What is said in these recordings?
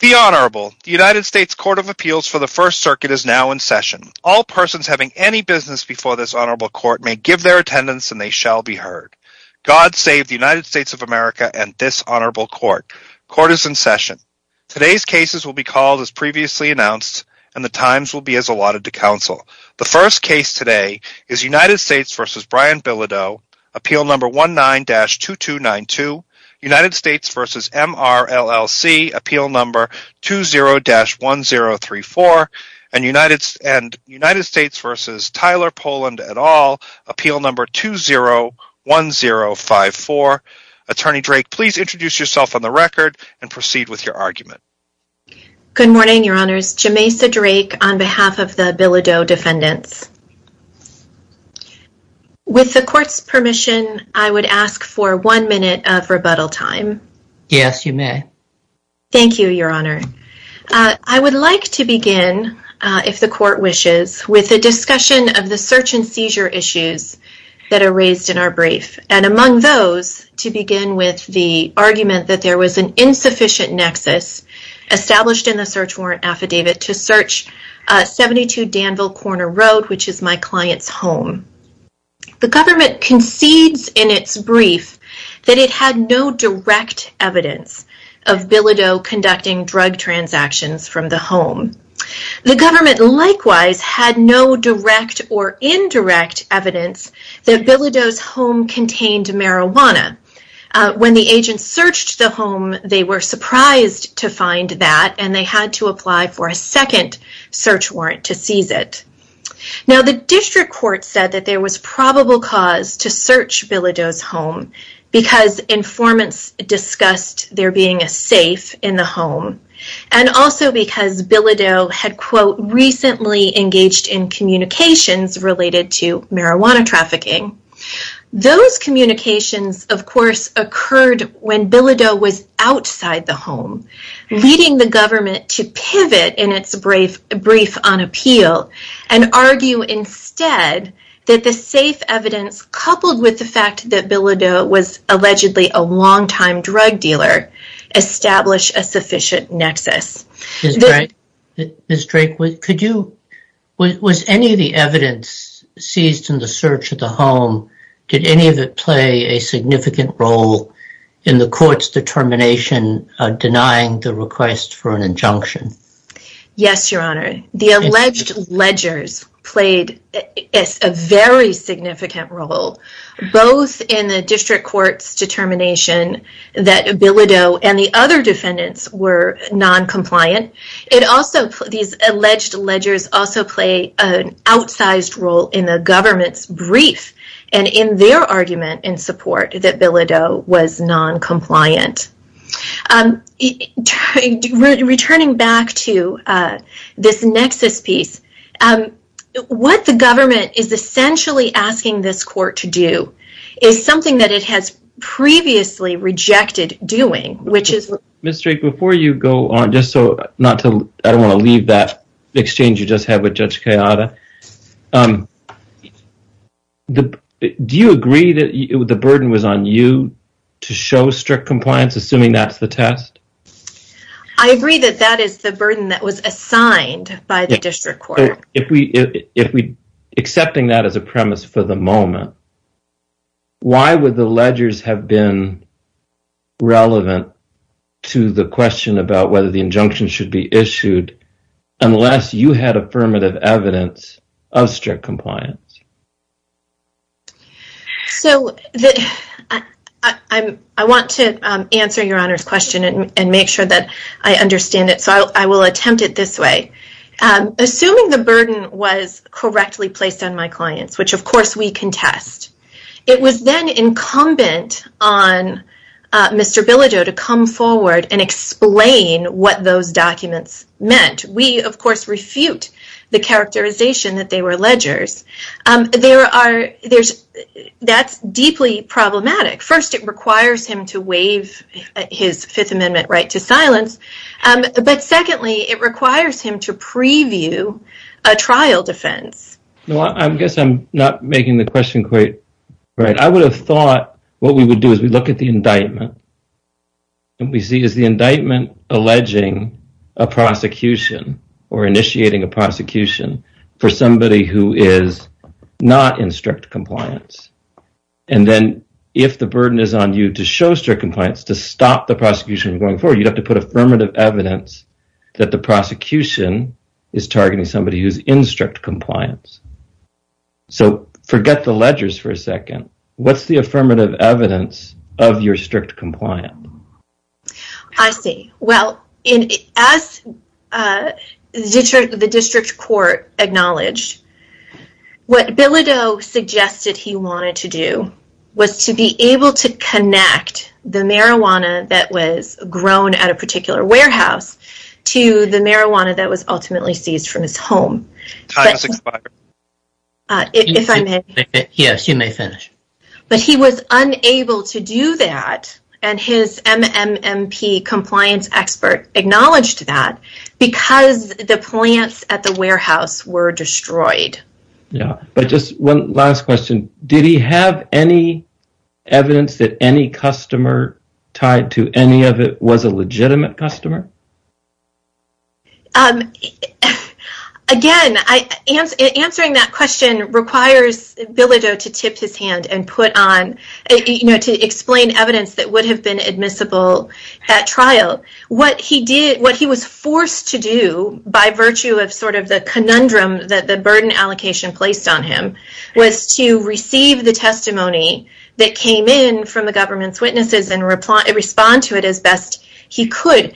The Honorable, the United States Court of Appeals for the First Circuit is now in session. All persons having any business before this Honorable Court may give their attendance and they shall be heard. God save the United States of America and this Honorable Court. Court is in session. Today's cases will be called as previously announced and the times will be as allotted to counsel. The first case today is United States v. Brian Bilodeau, Appeal No. 19-2292. United States v. MRLLC, Appeal No. 20-1034. And United States v. Tyler Poland et al., Appeal No. 201054. Attorney Drake, please introduce yourself on the record and proceed with your argument. Good morning, Your Honors. Jameisa Drake on behalf of the Bilodeau defendants. With the Court's permission, I would ask for one minute of rebuttal time. Yes, you may. Thank you, Your Honor. I would like to begin, if the Court wishes, with a discussion of the search and seizure issues that are raised in our brief. And among those, to begin with the argument that there was an insufficient nexus established in the search warrant affidavit to search 72 Danville Corner Road, which is my client's home. The government concedes in its brief that it had no direct evidence of Bilodeau conducting drug transactions from the home. The government likewise had no direct or indirect evidence that Bilodeau's home contained marijuana. When the agents searched the home, they were surprised to find that, and they had to apply for a second search warrant to seize it. Now, the district court said that there was probable cause to search Bilodeau's home, because informants discussed there being a safe in the home, and also because Bilodeau had, quote, recently engaged in communications related to marijuana trafficking. Those communications, of course, occurred when Bilodeau was outside the home, leading the government to pivot in its brief on appeal and argue instead that the safe evidence, coupled with the fact that Bilodeau was allegedly a longtime drug dealer, established a sufficient nexus. Ms. Drake, was any of the evidence seized in the search of the home, did any of it play a significant role in the court's determination of denying the request for an injunction? Yes, Your Honor. The alleged ledgers played a very significant role, both in the district court's determination that Bilodeau and the other defendants were non-compliant. These alleged ledgers also play an outsized role in the government's brief and in their argument in support that Bilodeau was non-compliant. Returning back to this nexus piece, what the government is essentially asking this court to do is something that it has previously rejected doing. Ms. Drake, before you go on, just so I don't want to leave that exchange you just had with Judge Kayada, do you agree that the burden was on you to show strict compliance, assuming that's the test? I agree that that is the burden that was assigned by the district court. Accepting that as a premise for the moment, why would the ledgers have been relevant to the question about whether the injunction should be issued unless you had affirmative evidence of strict compliance? I want to answer Your Honor's question and make sure that I understand it, so I will attempt it this way. Assuming the burden was correctly placed on my clients, which of course we contest, it was then incumbent on Mr. Bilodeau to come forward and explain what those documents meant. We, of course, refute the characterization that they were ledgers. That's deeply problematic. First, it requires him to waive his Fifth Amendment right to silence, but secondly, it requires him to preview a trial defense. I guess I'm not making the question quite right. I would have thought what we would do is we look at the indictment and we see is the indictment alleging a prosecution or initiating a prosecution for somebody who is not in strict compliance. Then, if the burden is on you to show strict compliance to stop the prosecution from going forward, you'd have to put affirmative evidence that the prosecution is targeting somebody who's in strict compliance. Forget the ledgers for a second. What's the affirmative evidence of your strict compliance? I see. Well, as the district court acknowledged, what Bilodeau suggested he wanted to do was to be able to connect the marijuana that was grown at a particular warehouse to the marijuana that was ultimately seized from his home. Time has expired. If I may. Yes, you may finish. But he was unable to do that, and his MMMP compliance expert acknowledged that, because the plants at the warehouse were destroyed. Yeah, but just one last question. Did he have any evidence that any customer tied to any of it was a legitimate customer? Again, answering that question requires Bilodeau to tip his hand and put on, you know, to explain evidence that would have been admissible at trial. What he did, what he was forced to do, by virtue of sort of the conundrum that the burden allocation placed on him, was to receive the testimony that came in from the government's witnesses and respond to it as best he could.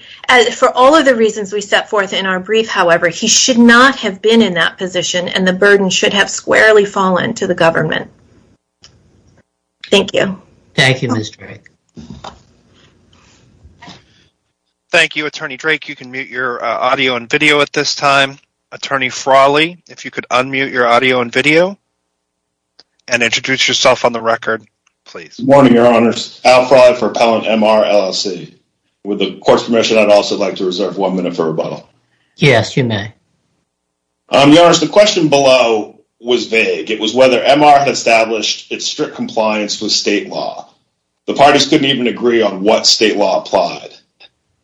For all of the reasons we set forth in our brief, however, he should not have been in that position, and the burden should have squarely fallen to the government. Thank you. Thank you, Ms. Drake. Thank you, Attorney Drake. You can mute your audio and video at this time. Attorney Frawley, if you could unmute your audio and video and introduce yourself on the record, please. Good morning, Your Honors. Al Frawley for Appellant MR, LLC. With the Court's permission, I'd also like to reserve one minute for rebuttal. Yes, you may. Your Honors, the question below was vague. It was whether MR had established its strict compliance with state law. The parties couldn't even agree on what state law applied.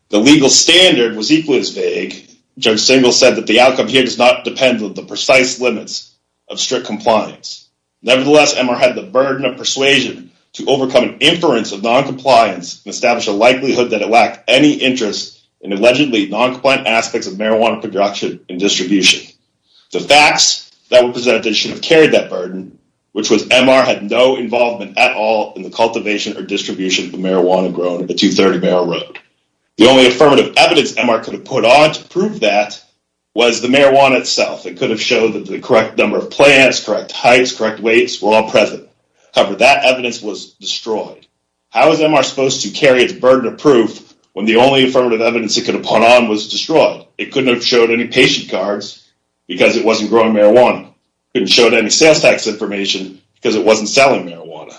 The legal standard was equally as vague. Judge Singal said that the outcome here does not depend on the precise limits of strict compliance. Nevertheless, MR had the burden of persuasion to overcome an inference of noncompliance and establish a likelihood that it lacked any interest in allegedly noncompliant aspects of marijuana production and distribution. The facts that were presented should have carried that burden, which was MR had no involvement at all in the cultivation or distribution of marijuana grown at 230 Merrill Road. The only affirmative evidence MR could have put on to prove that was the marijuana itself. It could have showed that the correct number of plants, correct heights, correct weights were all present. However, that evidence was destroyed. How is MR supposed to carry its burden of proof when the only affirmative evidence it could have put on was destroyed? It couldn't have showed any patient cards because it wasn't growing marijuana. It couldn't show any sales tax information because it wasn't selling marijuana.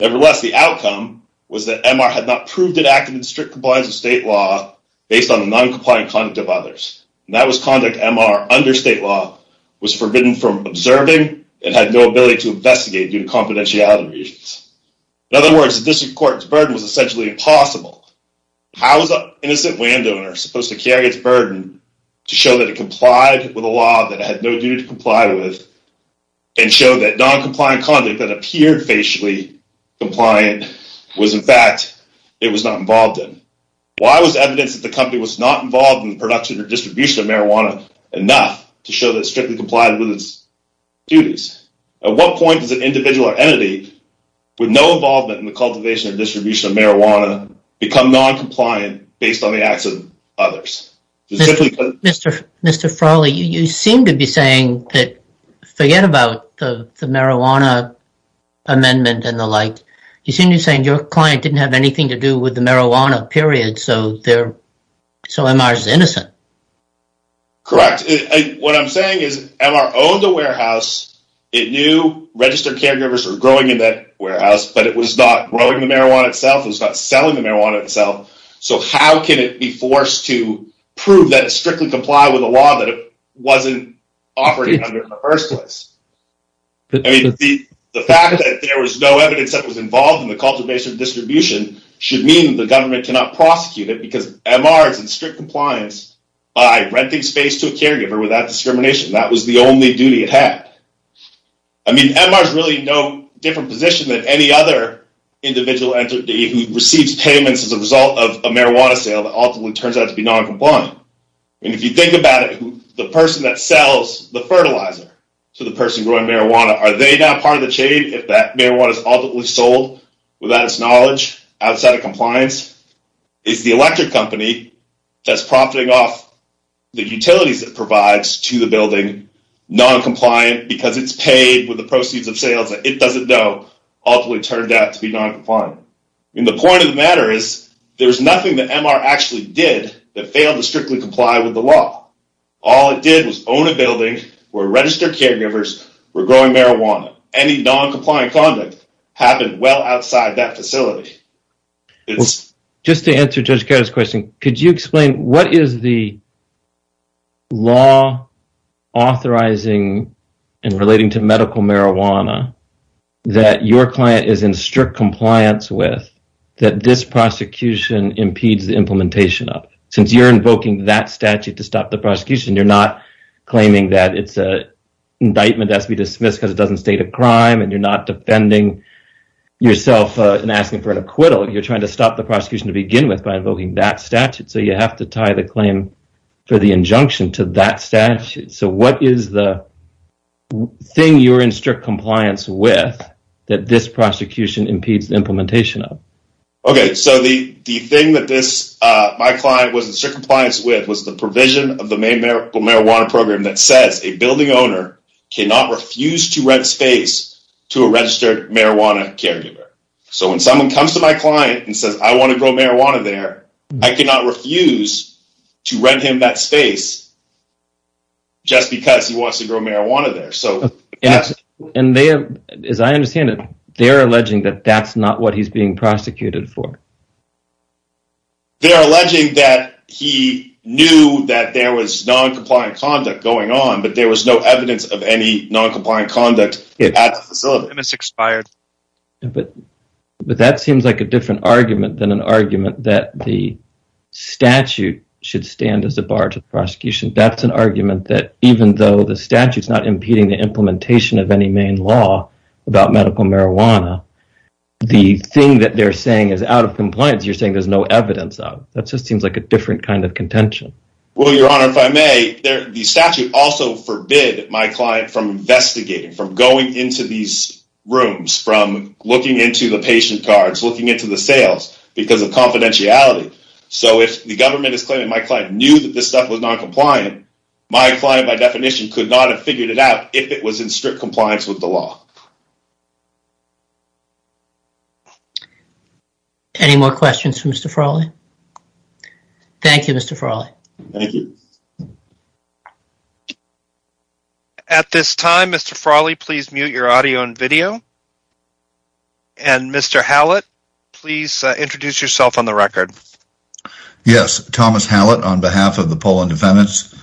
Nevertheless, the outcome was that MR had not proved it acted in strict compliance with state law based on the noncompliant conduct of others. And that was conduct MR under state law was forbidden from observing and had no ability to investigate due to confidentiality reasons. In other words, the district court's burden was essentially impossible. How is an innocent landowner supposed to carry its burden to show that it complied with a law that it had no duty to comply with and show that noncompliant conduct that appeared facially compliant was, in fact, it was not involved in? Why was evidence that the company was not involved in the production or distribution of marijuana enough to show that it strictly complied with its duties? At what point does an individual or entity with no involvement in the cultivation or distribution of marijuana become noncompliant based on the acts of others? Mr. Frawley, you seem to be saying that, forget about the marijuana amendment and the like, you seem to be saying your client didn't have anything to do with the marijuana period, so MR is innocent. Correct. What I'm saying is MR owned a warehouse. It knew registered caregivers were growing in that warehouse, but it was not growing the marijuana itself. It was not selling the marijuana itself. So how can it be forced to prove that it strictly complied with a law that it wasn't operating under in the first place? I mean, the fact that there was no evidence that was involved in the cultivation or distribution should mean the government cannot prosecute it because MR is in strict compliance by renting space to a caregiver without discrimination. That was the only duty it had. I mean, MR is really no different position than any other individual entity who receives payments as a result of a marijuana sale that ultimately turns out to be noncompliant. And if you think about it, the person that sells the fertilizer to the person growing marijuana, are they now part of the chain if that marijuana is ultimately sold without its knowledge outside of compliance? It's the electric company that's profiting off the utilities it provides to the building, noncompliant because it's paid with the proceeds of sales that it doesn't know ultimately turned out to be noncompliant. And the point of the matter is there was nothing that MR actually did that failed to strictly comply with the law. All it did was own a building where registered caregivers were growing marijuana. Any noncompliant conduct happened well outside that facility. Just to answer Judge Kato's question, could you explain what is the law authorizing and relating to medical marijuana that your client is in strict compliance with that this prosecution impedes the implementation of? Since you're invoking that statute to stop the prosecution, you're not claiming that it's an indictment that has to be dismissed because it doesn't state a crime and you're not defending yourself and asking for an acquittal. You're trying to stop the prosecution to begin with by invoking that statute. So you have to tie the claim for the injunction to that statute. So what is the thing you're in strict compliance with that this prosecution impedes the implementation of? Okay, so the thing that my client was in strict compliance with was the medical marijuana program that says a building owner cannot refuse to rent space to a registered marijuana caregiver. So when someone comes to my client and says, I want to grow marijuana there, I cannot refuse to rent him that space just because he wants to grow marijuana there. And as I understand it, they're alleging that that's not what he's being prosecuted for. They're alleging that he knew that there was non-compliant conduct going on, but there was no evidence of any non-compliant conduct at the facility. It expired. But that seems like a different argument than an argument that the statute should stand as a bar to the prosecution. That's an argument that even though the statute's not impeding the implementation of any main law about medical marijuana, the thing that they're saying is out of compliance, you're saying there's no evidence of. That just seems like a different kind of contention. Well, Your Honor, if I may, the statute also forbid my client from investigating, from going into these rooms, from looking into the patient cards, looking into the sales because of confidentiality. So if the government is claiming my client knew that this stuff was non-compliant, my client by definition could not have figured it out if it was in strict compliance with the law. Any more questions for Mr. Frawley? Thank you, Mr. Frawley. Thank you. At this time, Mr. Frawley, please mute your audio and video. And Mr. Hallett, please introduce yourself on the record. Yes. Thomas Hallett on behalf of the Poland defendants.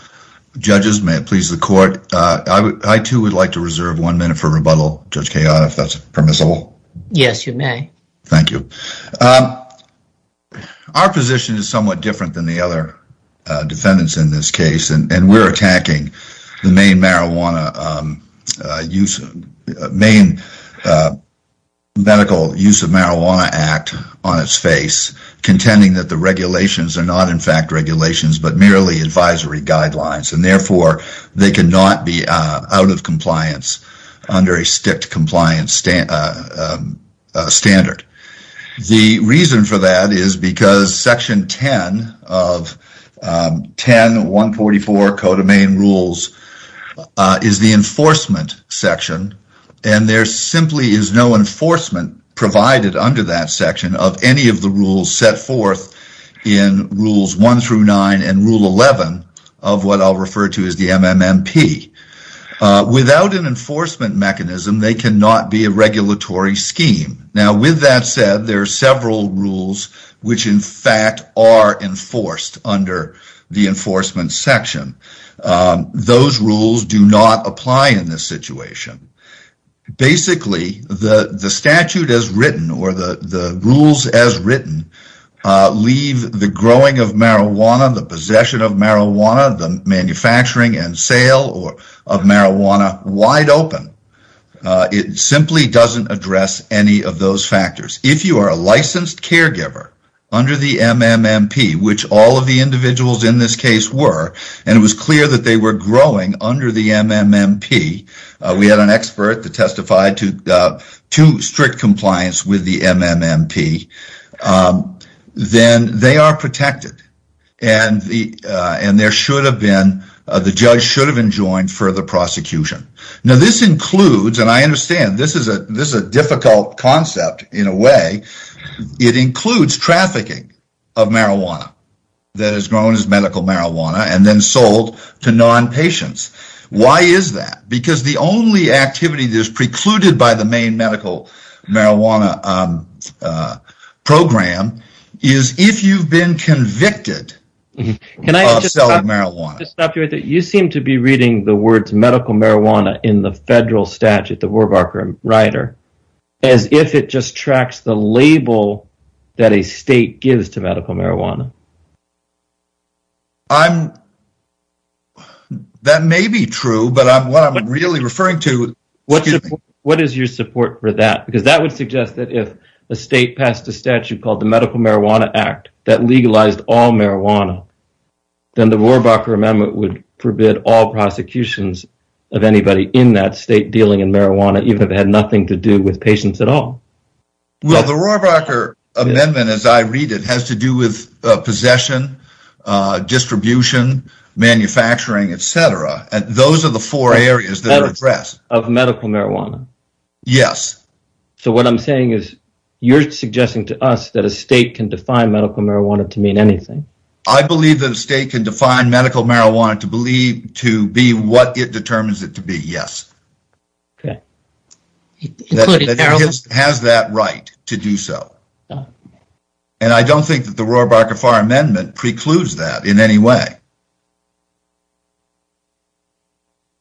Judges, may it please the court. I too would like to reserve one minute for rebuttal, Judge Kayada, if that's permissible. Yes, you may. Thank you. Our position is somewhat different than the other defendants in this case. And we're attacking the main marijuana use, main medical use of marijuana act on its face, contending that the regulations are not in fact regulations, but merely advisory guidelines. And therefore they can not be out of compliance under a strict compliance standard. The reason for that is because section 10 of 10, 144 codomain rules is the enforcement section. And there simply is no enforcement provided under that section of any of the rules set forth in rules one through nine and rule 11 of what I'll refer to as the MMMP. Without an enforcement mechanism, they can not be a regulatory scheme. Now with that said, there are several rules, which in fact are enforced under the enforcement section. Those rules do not apply in this situation. Basically the statute as written or the rules as written, leave the growing of marijuana, the possession of marijuana, the manufacturing and sale of marijuana wide open. It simply doesn't address any of those factors. If you are a licensed caregiver under the MMMP, which all of the individuals in this case were, and it was clear that they were growing under the MMMP, we had an expert that testified to strict compliance with the MMMP, then they are protected. And the judge should have enjoined further prosecution. Now this includes, and I understand this is a difficult concept in a way, it includes trafficking of marijuana that is grown as medical marijuana and then sold to non-patients. Why is that? Because the only activity that is precluded by the main medical marijuana program is if you've been convicted of selling marijuana. You seem to be reading the words medical marijuana in the federal statute, the Warbarker-Ryder, as if it just tracks the label that a state gives to medical marijuana. That may be true, but what I'm really referring to... What is your support for that? Because that would suggest that if a state passed a statute called the Medical Marijuana Act that legalized all marijuana, then the Warbarker Amendment would forbid all prosecutions of anybody in that state dealing in marijuana, even if it had nothing to do with patients at all. Well, the Warbarker Amendment, as I read it, has to do with possession, distribution, manufacturing, etc. Those are the four areas that are addressed. Of medical marijuana. Yes. So what I'm saying is, you're suggesting to us that a state can define medical marijuana to mean anything. I believe that a state can define medical marijuana to be what it determines it to be. Yes. It has that right to do so. And I don't think that the Warbarker-Farr Amendment precludes that in any way.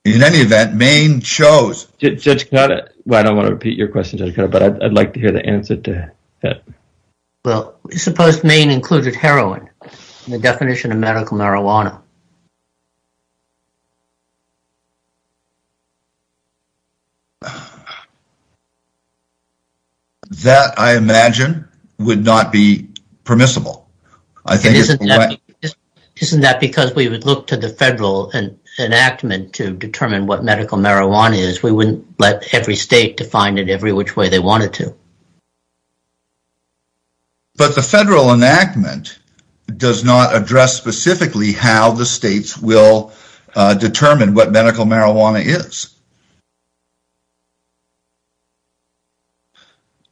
In any event, Maine chose... Judge Kanata? Well, I don't want to repeat your question, Judge Kanata, but I'd like to hear the answer to that. Well, suppose Maine included heroin in the definition of medical marijuana? That, I imagine, would not be permissible. Isn't that because we would look to the federal enactment to determine what medical marijuana is? We wouldn't let every state define it every which way they wanted to. But the federal enactment does not address specifically how the states will determine what medical marijuana is.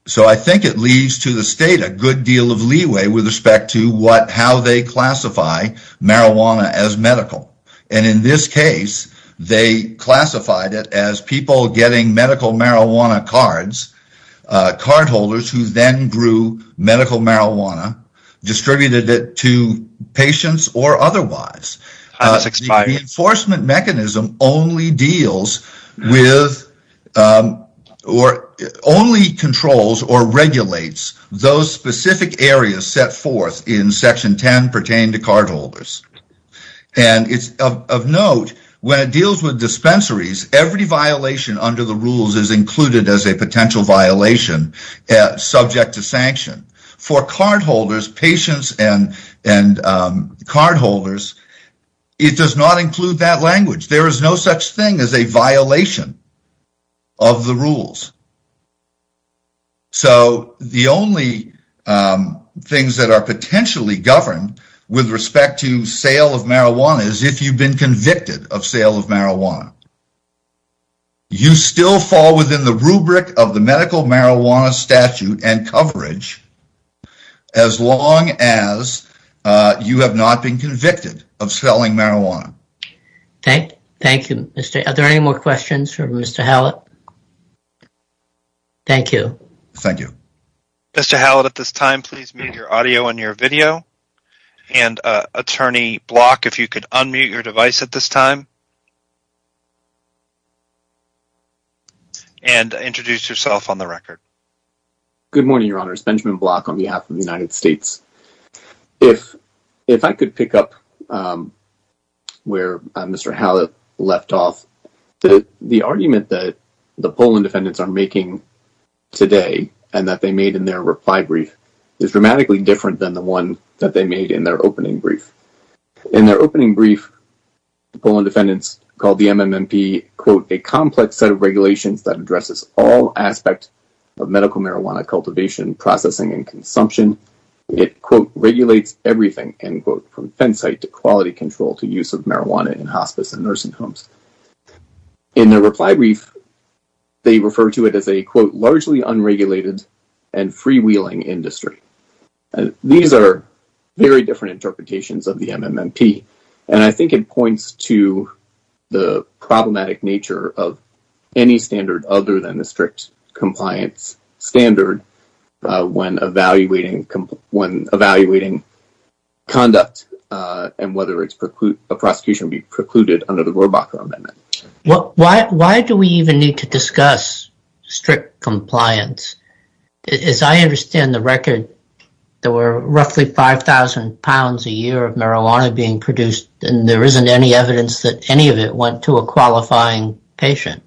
So I think it leaves to the state a good deal of leeway with respect to how they classify marijuana as medical. And in this case, they classified it as people getting medical marijuana cards, cardholders who then grew medical marijuana, distributed it to patients or otherwise. The enforcement mechanism only deals with... only controls or regulates those specific areas set forth in Section 10 pertaining to cardholders. And of note, when it deals with dispensaries, every violation under the rules is included as a potential violation subject to sanction. For cardholders, patients and cardholders, it does not include that language. There is no such thing as a violation of the rules. So the only things that are potentially governed with respect to sale of marijuana is if you've been convicted of sale of marijuana. You still fall within the rubric of the medical marijuana statute and coverage as long as you have not been convicted of selling marijuana. Thank you. Are there any more questions for Mr. Hallett? Thank you. Thank you. Mr. Hallett, at this time, please mute your audio and your video. And Attorney Block, if you could unmute your device at this time. And introduce yourself on the record. Good morning, Your Honors. Benjamin Block on behalf of the United States. If I could pick up where Mr. Hallett left off, the argument that the Poland defendants are making today and that they made in their reply brief is dramatically different than the one that they made in their opening brief. In their opening brief, the Poland defendants called the MMMP a complex set of regulations that addresses all aspects of medical marijuana cultivation, processing, and consumption. It, quote, regulates everything, end quote, from fence site to quality control to use of marijuana in hospice and nursing homes. In their reply brief, they refer to it as a, quote, freewheeling industry. These are very different interpretations of the MMMP. And I think it points to the problematic nature of any standard other than the strict compliance standard when evaluating conduct and whether a prosecution would be precluded under the Gorbachev Amendment. Why do we even need to discuss strict compliance? As I understand the record, there were roughly 5,000 pounds a year of marijuana being produced and there isn't any evidence that any of it went to a qualifying patient.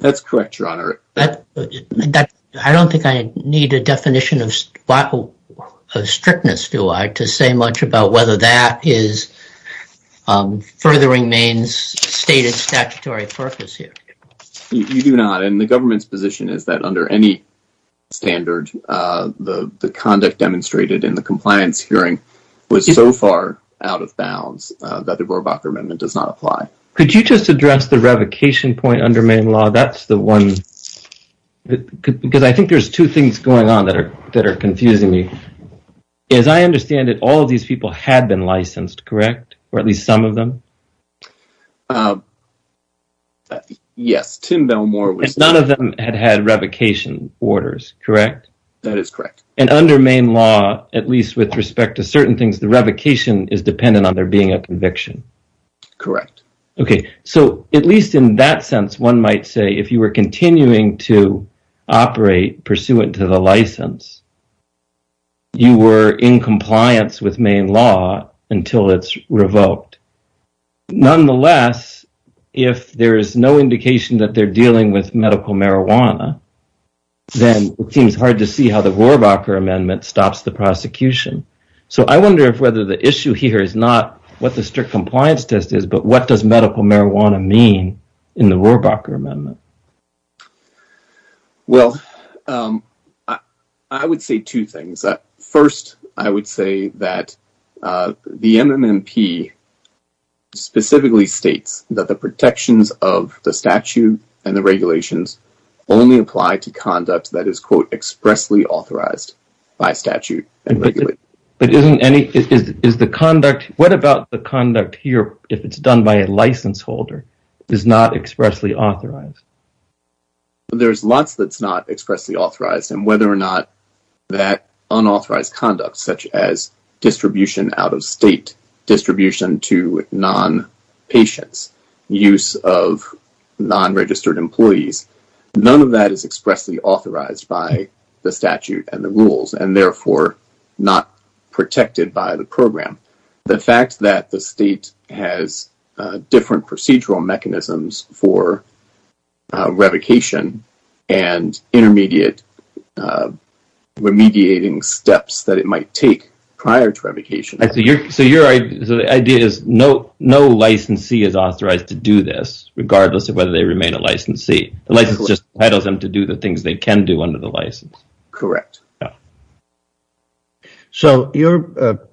That's correct, Your Honor. I don't think I need a definition of strictness, do I, to say much about whether that is furthering Maine's stated statutory purpose here. You do not. And the government's position is that under any standard, the conduct demonstrated in the compliance hearing was so far out of bounds that the Gorbachev Amendment does not apply. Could you just address the revocation point under Maine law? That's the one. Because I think there's two things going on that are confusing me. As I understand it, all of these people had been licensed, correct? Or at least some of them? Yes, Tim Belmore was... And none of them had had revocation orders, correct? That is correct. And under Maine law, at least with respect to certain things, the revocation is dependent on there being a conviction. Correct. Okay, so at least in that sense, one might say, if you were continuing to operate pursuant to the license, you were in compliance with Maine law until it's revoked. Nonetheless, if there is no indication that they're dealing with medical marijuana, then it seems hard to see how the Rohrabacher Amendment stops the prosecution. So I wonder if whether the issue here is not what the strict compliance test is, but what does medical marijuana mean in the Rohrabacher Amendment? Well, I would say two things. First, I would say that the MNMP specifically states that the protections of the statute and the regulations only apply to conduct that is, quote, expressly authorized by statute and regulation. But isn't any... Is the conduct... What about the conduct here, if it's done by a license holder, is not expressly authorized? There's lots that's not expressly authorized, and whether or not that unauthorized conduct, such as distribution out of state, distribution to non-patients, use of non-registered employees, none of that is expressly authorized by the statute and the rules and therefore not protected by the program. The fact that the state has different procedural mechanisms for revocation and intermediate remediating steps that it might take prior to revocation. So your idea is no licensee is authorized to do this, regardless of whether they remain a licensee. The license just entitles them to do the things they can do under the license. Correct. So your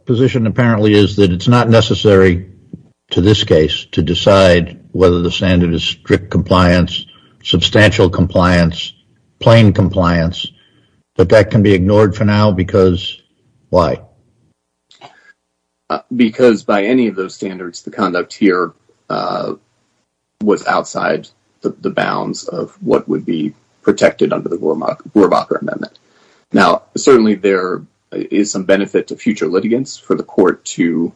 position apparently is that it's not necessary to this case to decide whether the standard is strict compliance, substantial compliance, plain compliance, but that can be ignored for now because... Why? Because by any of those standards, the conduct here was outside the bounds of what would be protected under the Boerbacher Amendment. Now, certainly there is some benefit to future litigants for the court to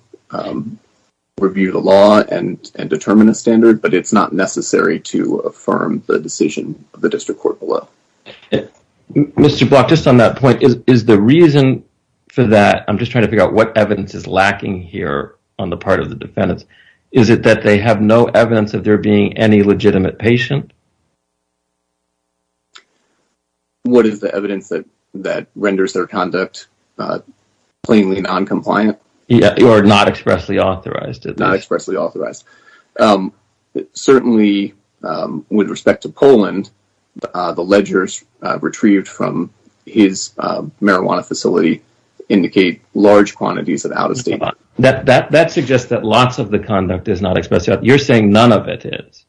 review the law and determine a standard, but it's not necessary to affirm the decision of the district court below. Mr. Brock, just on that point, is the reason for that, I'm just trying to figure out what evidence is lacking here on the part of the defendants. Is it that they have no evidence of there being any legitimate patient? What is the evidence that renders their conduct plainly non-compliant? Or not expressly authorized. Not expressly authorized. Certainly, with respect to Poland, the ledgers retrieved from his marijuana facility indicate large quantities of out-of-state marijuana. That suggests that lots of the conduct is not expressed. You're saying none of it is.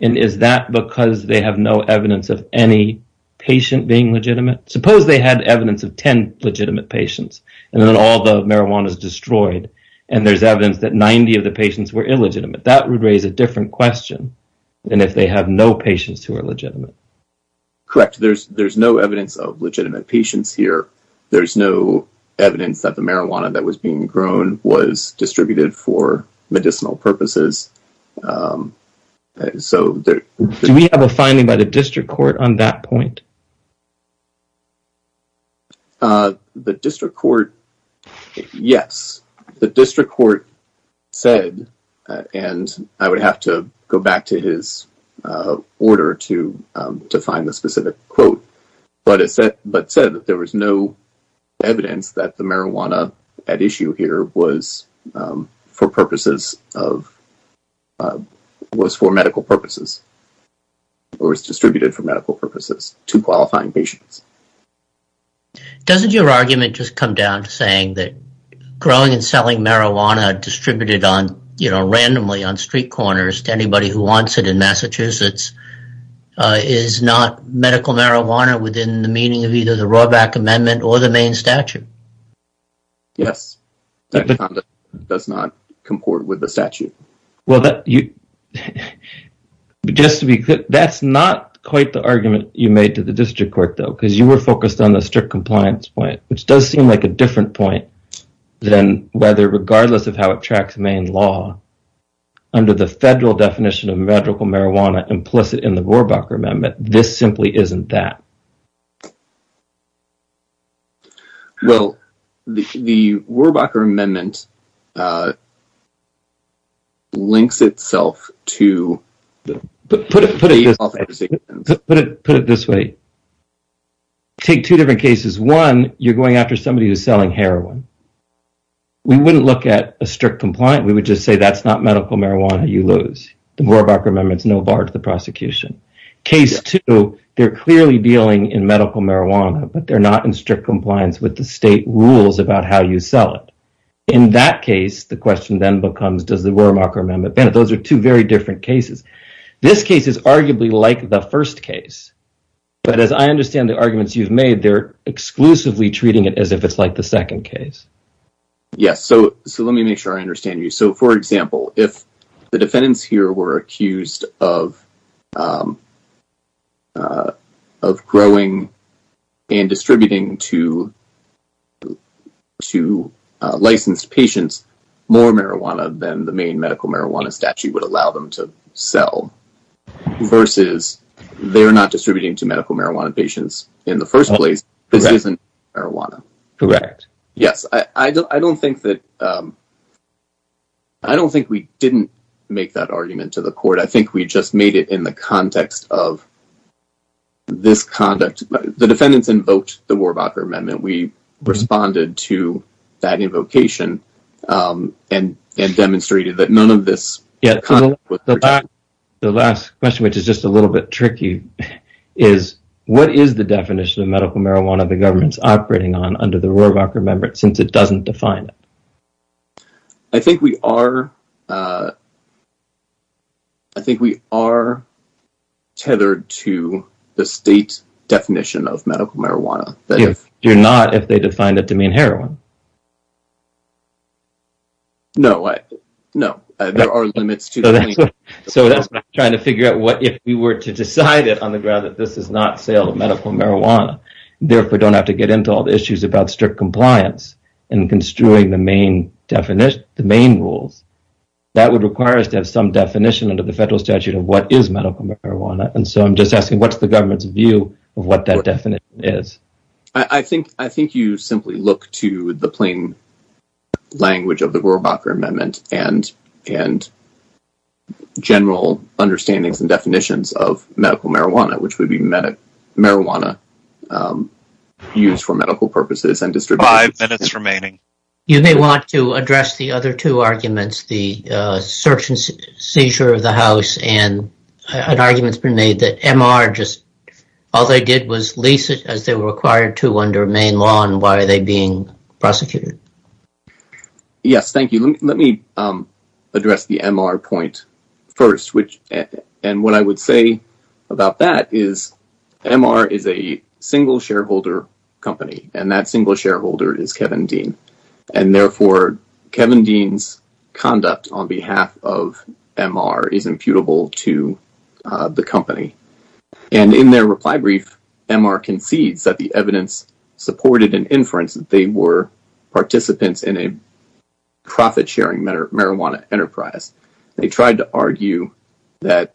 And is that because they have no evidence of any patient being legitimate? Suppose they had evidence of 10 legitimate patients and then all the marijuana is destroyed and there's evidence that 90 of the patients were illegitimate. That would raise a different question than if they have no patients who are legitimate. Correct. There's no evidence of legitimate patients here. There's no evidence that the marijuana that was being grown was distributed for medicinal purposes. Do we have a finding by the district court on that point? The district court, yes. The district court said, and I would have to go back to his order to find the specific quote, but it said that there was no evidence that the marijuana at issue here was for medical purposes. Or was distributed for medical purposes to qualifying patients. Doesn't your argument just come down to saying that growing and selling marijuana distributed randomly on street corners to anybody who wants it in Massachusetts is not medical marijuana within the meaning of either the Rohrbach Amendment or the main statute? Yes. That does not comport with the statute. Well, that's not quite the argument you made to the district court, though, because you were focused on the strict compliance point, which does seem like a different point than whether, regardless of how it tracks main law, under the federal definition of medical marijuana implicit in the Rohrbach Amendment, this simply isn't that. Well, the Rohrbach Amendment links itself to... Put it this way. Take two different cases. One, you're going after somebody who's selling heroin. We wouldn't look at a strict compliance. We would just say that's not medical marijuana you lose. The Rohrbach Amendment's no bar to the prosecution. Case two, they're clearly dealing in medical marijuana, but they're not in strict compliance with the state rules about how you sell it. In that case, the question then becomes, does the Rohrbach Amendment benefit? Those are two very different cases. This case is arguably like the first case, but as I understand the arguments you've made, they're exclusively treating it as if it's like the second case. Yes, so let me make sure I understand you. So, for example, if the defendants here were accused of growing and distributing to licensed patients more marijuana than the main medical marijuana statute would allow them to sell, versus they're not distributing to medical marijuana patients in the first place, this isn't marijuana. Correct. Yes, I don't think that... I don't think we didn't make that argument to the court. I think we just made it in the context of this conduct. The defendants invoked the Rohrbach Amendment. We responded to that invocation and demonstrated that none of this... The last question, which is just a little bit tricky, is what is the definition of medical marijuana the government's operating on under the Rohrbach Amendment since it doesn't define it? I think we are tethered to the state definition of medical marijuana. You're not if they define it to mean heroin. No, there are limits to... So that's what I'm trying to figure out. What if we were to decide it on the ground that this is not sale of medical marijuana, therefore don't have to get into all the issues about strict compliance in construing the main rules? That would require us to have some definition under the federal statute of what is medical marijuana, and so I'm just asking what's the government's view of what that definition is. I think you simply look to the plain language of the Rohrbach Amendment and general understandings and definitions of medical marijuana, which would be marijuana used for medical purposes and distributed... Five minutes remaining. You may want to address the other two arguments, the search and seizure of the house and an argument's been made that MR just... All they did was lease it as they were required to under main law, and why are they being prosecuted? Yes, thank you. Let me address the MR point first, and what I would say about that is MR is a single shareholder company, and that single shareholder is Kevin Dean, and therefore Kevin Dean's conduct on behalf of MR is imputable to the company, and in their reply brief, MR concedes that the evidence supported an inference that they were participants in a profit-sharing marijuana enterprise. They tried to argue that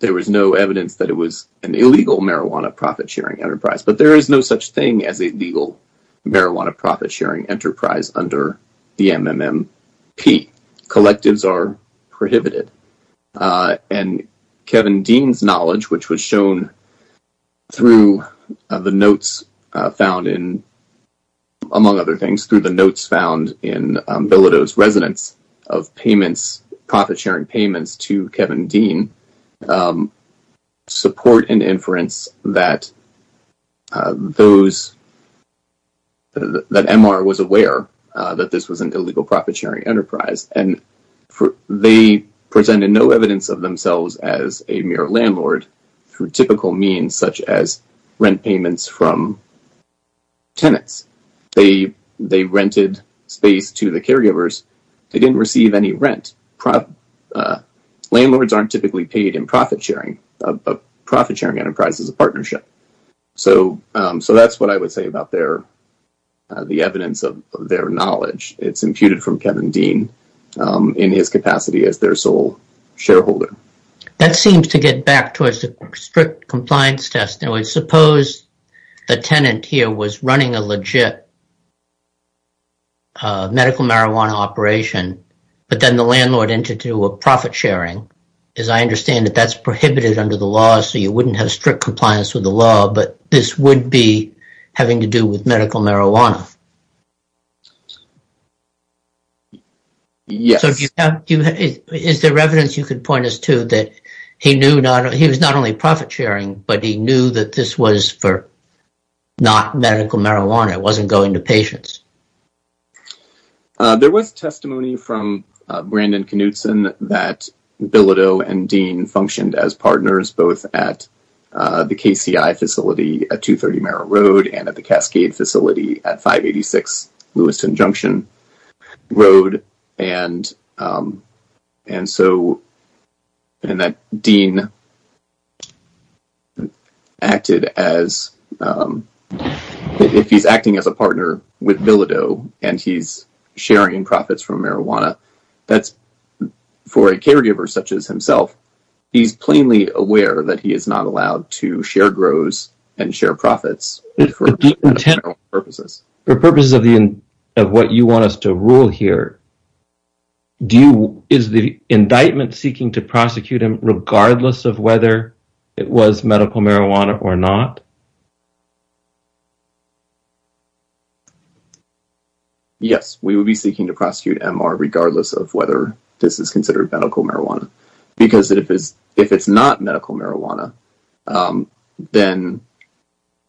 there was no evidence that it was an illegal marijuana profit-sharing enterprise, but there is no such thing as a legal marijuana profit-sharing enterprise under the MMMP. Collectives are prohibited, and Kevin Dean's knowledge, which was shown through the notes found in, among other things, through the notes found in Bilodeau's residence of payments, profit-sharing payments to Kevin Dean, support an inference that those... that MR was aware that this was an illegal profit-sharing enterprise, and they presented no evidence of themselves as a mere landlord through typical means such as rent payments from tenants. They rented space to the caregivers. They didn't receive any rent. Landlords aren't typically paid in profit-sharing, a profit-sharing enterprise is a partnership. So that's what I would say about their... their knowledge. It's imputed from Kevin Dean in his capacity as their sole shareholder. That seems to get back towards the strict compliance test. Now, suppose the tenant here was running a legit medical marijuana operation, but then the landlord entered into a profit-sharing. As I understand it, that's prohibited under the law, so you wouldn't have strict compliance with the law, but this would be having to do with medical marijuana. Yes. So do you have... is there evidence you could point us to that he knew not... he was not only profit-sharing, but he knew that this was for not medical marijuana, it wasn't going to patients. There was testimony from Brandon Knutson that Bilodeau and Dean functioned as partners both at the KCI facility at 230 Merrill Road and at the Cascade facility at 586 Lewiston Junction Road, and so... and that Dean acted as... if he's acting as a partner with Bilodeau and he's sharing profits from marijuana, that's for a caregiver such as himself. He's plainly aware that he is not allowed to share grows and share profits for medical marijuana purposes. For purposes of what you want us to rule here, do you... is the indictment seeking to prosecute him regardless of whether it was medical marijuana or not? Yes, we would be seeking to prosecute MR regardless of whether this is considered medical marijuana because if it's not medical marijuana, then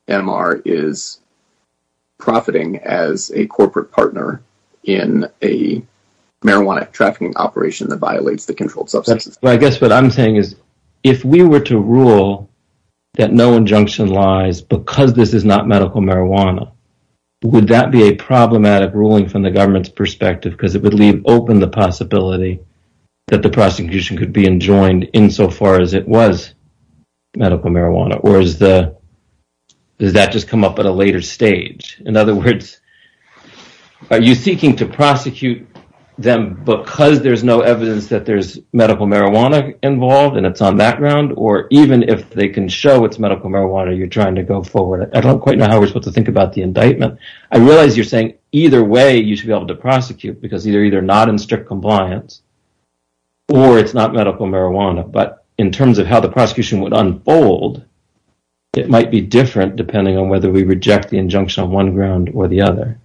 MR is profiting as a corporate partner in a marijuana trafficking operation that violates the controlled substance. I guess what I'm saying is, if we were to rule that no injunction lies because this is not medical marijuana, would that be a problematic ruling from the government's perspective because it would leave open the possibility that the prosecution could be enjoined insofar as it was medical marijuana or does that just come up at a later stage? In other words, are you seeking to prosecute them because there's no evidence that there's medical marijuana involved and it's on that ground or even if they can show it's medical marijuana, you're trying to go forward it? I don't quite know how we're supposed to think about the indictment. I realize you're saying either way you should be able to prosecute because you're either not in strict compliance or it's not medical marijuana. But in terms of how the prosecution would unfold, it might be different depending on whether we reject the injunction on one ground or the other.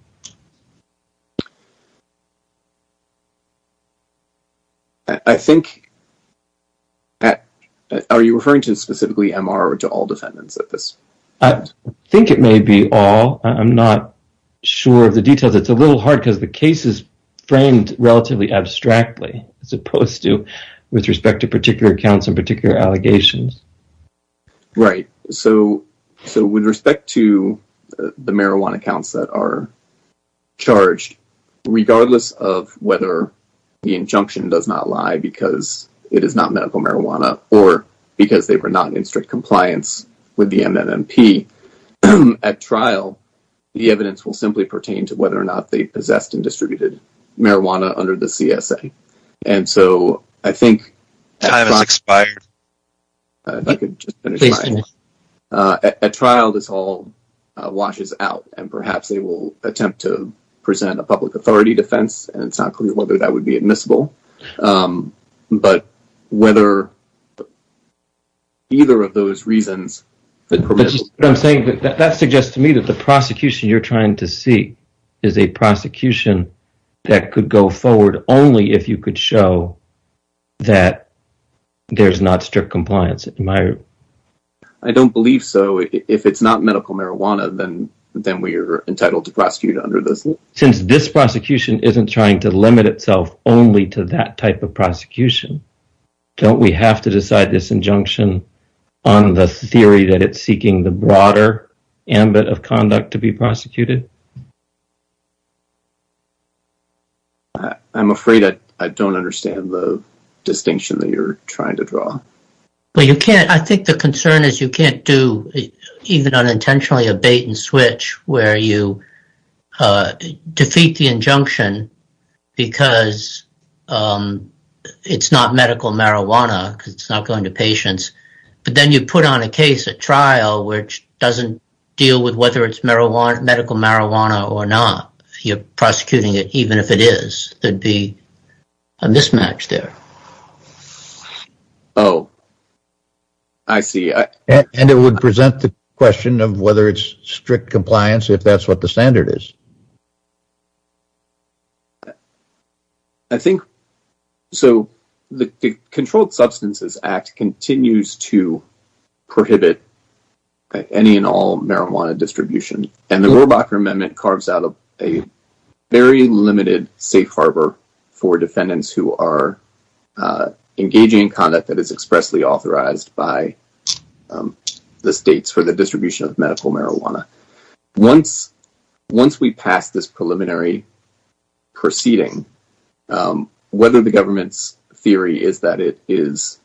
I think, are you referring to specifically MR or to all defendants at this point? I think it may be all. I'm not sure of the details. It's a little hard because the case is framed relatively abstractly as opposed to with respect to particular accounts and particular allegations. Right. With respect to the marijuana accounts that are charged, regardless of whether the injunction does not lie because it is not medical marijuana or because they were not in strict compliance with the MNMP, at trial, the evidence will simply pertain to whether or not they possessed and distributed marijuana under the CSA. And so I think at trial this all washes out and perhaps they will attempt to present a public authority defense and it's not clear whether that would be admissible. But whether either of those reasons. That's what I'm saying. That suggests to me that the prosecution you're trying to see is a prosecution that could go forward only if you could show that there's not strict compliance. I don't believe so. If it's not medical marijuana, then we are entitled to prosecute under this. Since this prosecution isn't trying to limit itself only to that type of prosecution, don't we have to decide this injunction on the theory that it's seeking the broader ambit of conduct to be prosecuted? I'm afraid I don't understand the distinction that you're trying to draw. I think the concern is you can't do, even unintentionally, a bait and switch where you defeat the injunction because it's not medical marijuana because it's not going to patients. But then you put on a case at trial which doesn't deal with whether it's medical marijuana or not. You're prosecuting it even if it is. There'd be a mismatch there. I see. It would present the question of whether it's strict compliance if that's what the standard is. The Controlled Substances Act continues to prohibit any and all marijuana distribution. The Rohrbacher Amendment carves out a very limited safe harbor for defendants who are engaging in conduct that is expressly authorized by the states for the distribution of medical marijuana. Once we pass this preliminary proceeding, whether the government's theory is that it is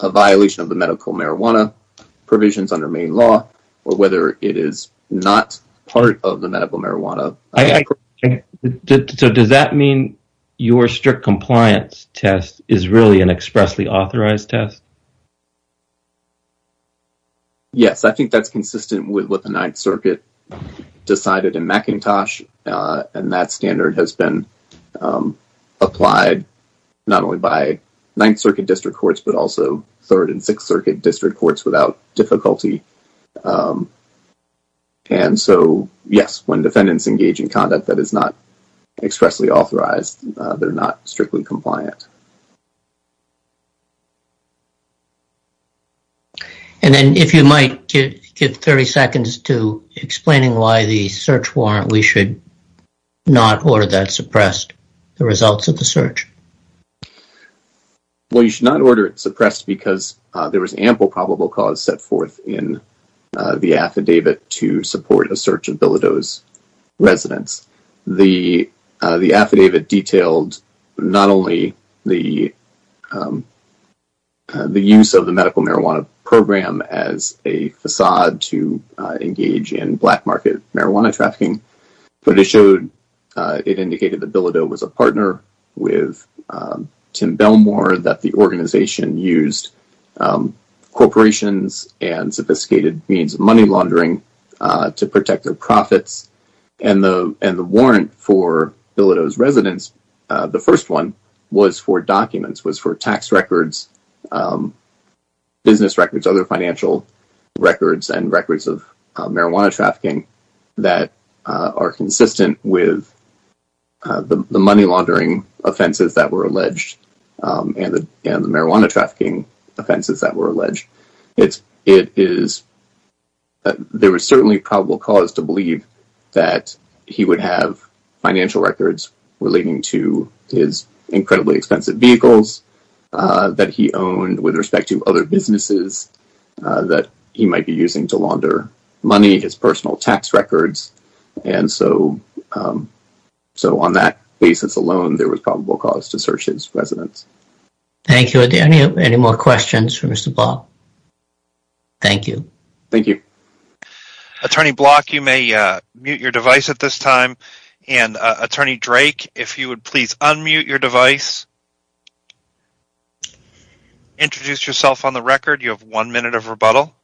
a violation of the medical marijuana provisions under main law or whether it is not part of the medical marijuana... Does that mean your strict compliance test is really an expressly authorized test? Yes. I think that's consistent with what the Ninth Circuit decided in McIntosh. That standard has been applied not only by Ninth Circuit District Courts but also Third and Sixth Circuit District Courts without difficulty. And so, yes, when defendants engage in conduct that is not expressly authorized, they're not strictly compliant. And then if you might give 30 seconds to explaining why the search warrant we should not order that suppressed, the results of the search. Well, you should not order it suppressed because there was ample probable cause set forth in the affidavit to support a search of Bilodeau's residence. The affidavit detailed not only the use of the medical marijuana program as a facade to engage in black market marijuana trafficking, but it showed... It indicated that Bilodeau was a partner with Tim Belmore that the organization used corporations and sophisticated means of money laundering to protect their profits. And the warrant for Bilodeau's residence, the first one, was for documents, was for tax records, business records, other financial records and records of marijuana trafficking that are consistent with the money laundering offenses that were alleged and the marijuana trafficking offenses that were alleged. It is... There was certainly probable cause to believe that he would have financial records relating to his incredibly expensive vehicles that he owned with respect to other businesses that he might be using to launder money, his personal tax records. And so on that basis alone, there was probable cause to search his residence. Thank you. Any more questions for Mr. Block? Thank you. Thank you. Attorney Block, you may mute your device at this time. And Attorney Drake, if you would please unmute your device. Introduce yourself on the record. You have one minute of rebuttal.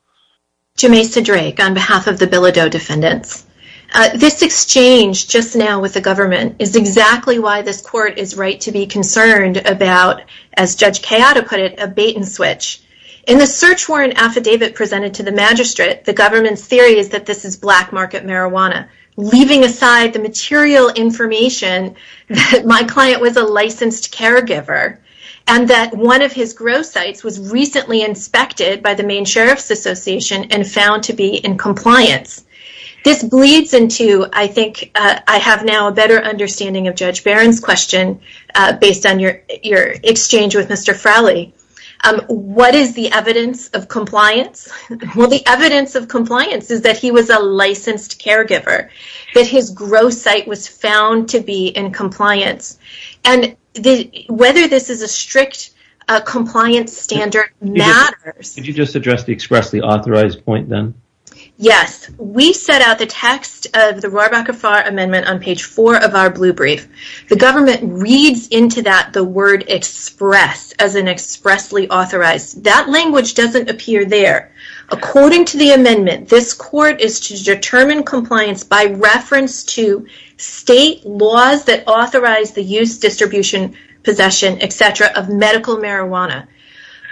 Jameisa Drake, on behalf of the Bilodeau defendants. This exchange just now with the government is exactly why this court is right to be concerned about, as Judge Cayotta put it, a bait-and-switch. In the search warrant affidavit presented to the magistrate, the government's theory is that this is black market marijuana, leaving aside the material information that my client was a licensed caregiver and that one of his growth sites was recently inspected by the Maine Sheriff's Association and found to be in compliance. This bleeds into, I think, I have now a better understanding of Judge Barron's question, based on your exchange with Mr. Frally. What is the evidence of compliance? Well, the evidence of compliance is that he was a licensed caregiver, that his growth site was found to be in compliance. And whether this is a strict compliance standard matters. Could you just address the expressly authorized point, then? Yes. We set out the text of the Rohrabacher-Farr Amendment on page 4 of our blue brief. The government reads into that the word express, as in expressly authorized. That language doesn't appear there. According to the amendment, this court is to determine compliance by reference to state laws that authorize the use, distribution, possession, etc., of medical marijuana.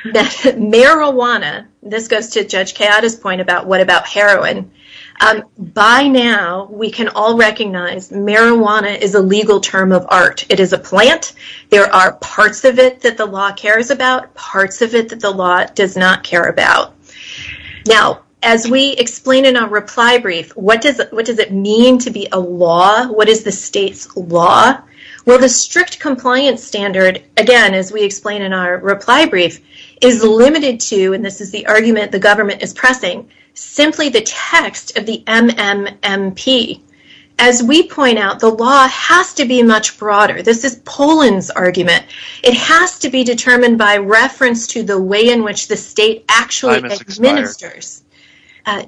Marijuana. This goes to Judge Keada's point about what about heroin. By now, we can all recognize marijuana is a legal term of art. It is a plant. There are parts of it that the law cares about, parts of it that the law does not care about. Now, as we explain in our reply brief, what does it mean to be a law? What is the state's law? Well, the strict compliance standard, again, as we explain in our reply brief, is limited to, and this is the argument the government is pressing, simply the text of the MMMP. As we point out, the law has to be much broader. This is Poland's argument. It has to be determined by reference to the way in which the state actually administers.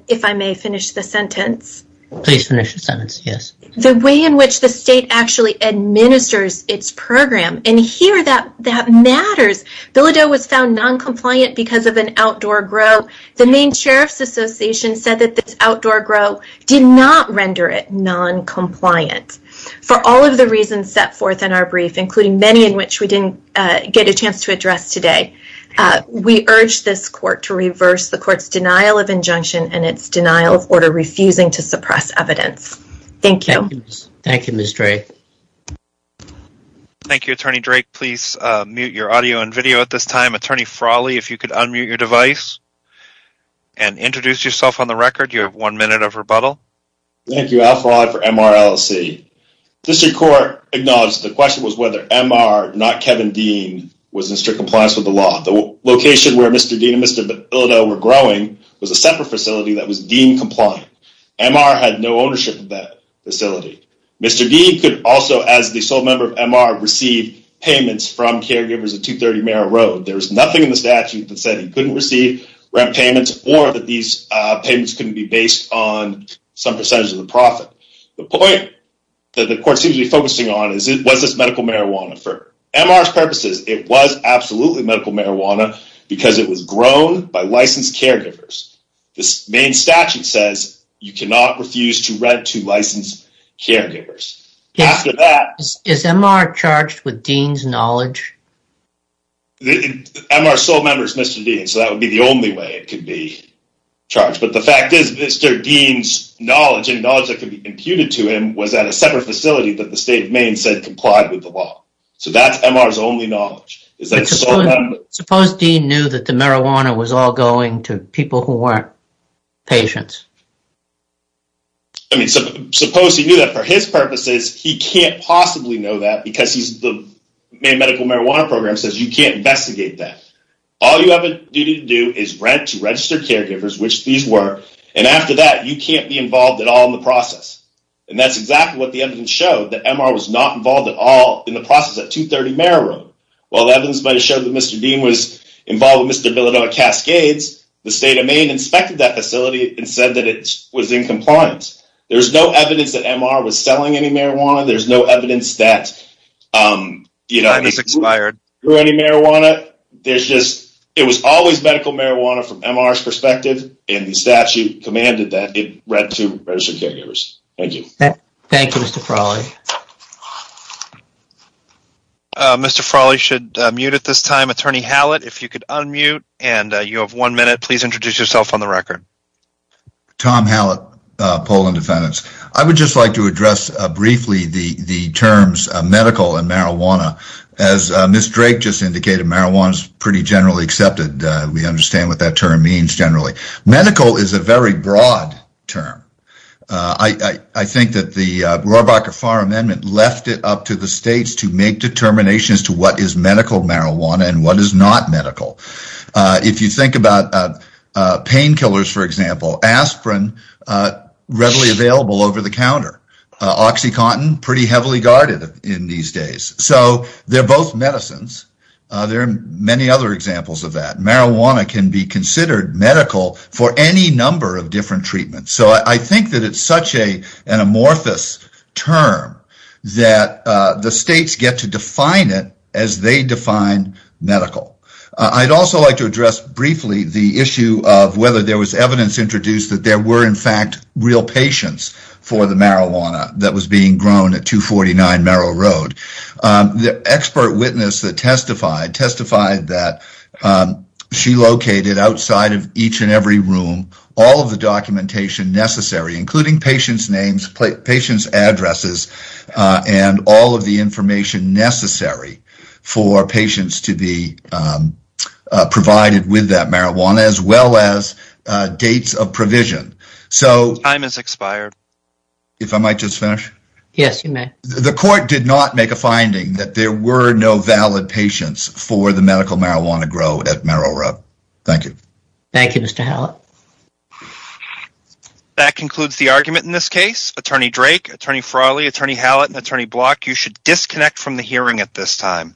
If I may finish the sentence. Please finish the sentence, yes. The way in which the state actually administers its program. And here, that matters. Bilodeau was found noncompliant because of an outdoor grow. The Maine Sheriff's Association said that this outdoor grow did not render it noncompliant. For all of the reasons set forth in our brief, including many in which we didn't get a chance to address today, we urge this court to reverse the court's denial of injunction and its denial of order refusing to suppress evidence. Thank you. Thank you, Ms. Dray. Thank you, Attorney Drake. Please mute your audio and video at this time. Attorney Frawley, if you could unmute your device and introduce yourself on the record. You have one minute of rebuttal. Thank you, Al Frawley for MRLC. District Court acknowledged the question was whether MR, not Kevin Dean, was in strict compliance with the law. The location where Mr. Dean and Mr. Bilodeau were growing was a separate facility that was deemed compliant. MR had no ownership of that facility. Mr. Dean could also, as the sole member of MR, receive payments from caregivers at 230 Merritt Road. There was nothing in the statute that said he couldn't receive rent payments or that these payments couldn't be based on some percentage of the profit. The point that the court seems to be focusing on is, was this medical marijuana for MR's purposes? It was absolutely medical marijuana because it was grown by licensed caregivers. The Maine statute says you cannot refuse to rent to licensed caregivers. Is MR charged with Dean's knowledge? MR's sole member is Mr. Dean, so that would be the only way it could be charged. But the fact is Mr. Dean's knowledge, and knowledge that could be imputed to him, was at a separate facility that the state of Maine said complied with the law. So that's MR's only knowledge. Suppose Dean knew that the marijuana was all going to people who weren't patients? Suppose he knew that. For his purposes, he can't possibly know that because the Maine Medical Marijuana Program says you can't investigate that. All you have a duty to do is rent to registered caregivers, which these were, and after that you can't be involved at all in the process. And that's exactly what the evidence showed, that MR was not involved at all in the process at 230 Merritt Road. While evidence might have showed that Mr. Dean was involved with Mr. Villadoy Cascades, the state of Maine inspected that facility and said that it was in compliance. There's no evidence that MR was selling any marijuana. There's no evidence that, you know, he grew any marijuana. There's just, it was always medical marijuana from MR's perspective, and the statute commanded that it rent to registered caregivers. Thank you. Thank you, Mr. Frawley. Mr. Frawley should mute at this time. Attorney Hallett, if you could unmute and you have one minute, please introduce yourself on the record. Tom Hallett, Poland Defendants. I would just like to address briefly the terms medical and marijuana. As Ms. Drake just indicated, marijuana is pretty generally accepted. We understand what that term means generally. Medical is a very broad term. I think that the Rohrbacher-Farr Amendment left it up to the states to make determinations to what is medical marijuana and what is not medical. If you think about painkillers, for example, aspirin readily available over the counter. Oxycontin, pretty heavily guarded in these days. So they're both medicines. There are many other examples of that. Marijuana can be considered medical for any number of different treatments. So I think that it's such an amorphous term that the states get to define it as they define medical. I'd also like to address briefly the issue of whether there was evidence introduced that there were, in fact, real patients for the marijuana that was being grown at 249 Merrill Road. The expert witness that testified testified that she located outside of each and every room all of the documentation necessary, including patients' names, patients' addresses, and all of the information necessary for patients to be provided with that marijuana, as well as dates of provision. Time has expired. If I might just finish? Yes, you may. The court did not make a finding that there were no valid patients for the medical marijuana grown at Merrill Road. Thank you. Thank you, Mr. Hallett. That concludes the argument in this case. Attorney Drake, Attorney Frawley, Attorney Hallett, and Attorney Block, you should disconnect from the hearing at this time.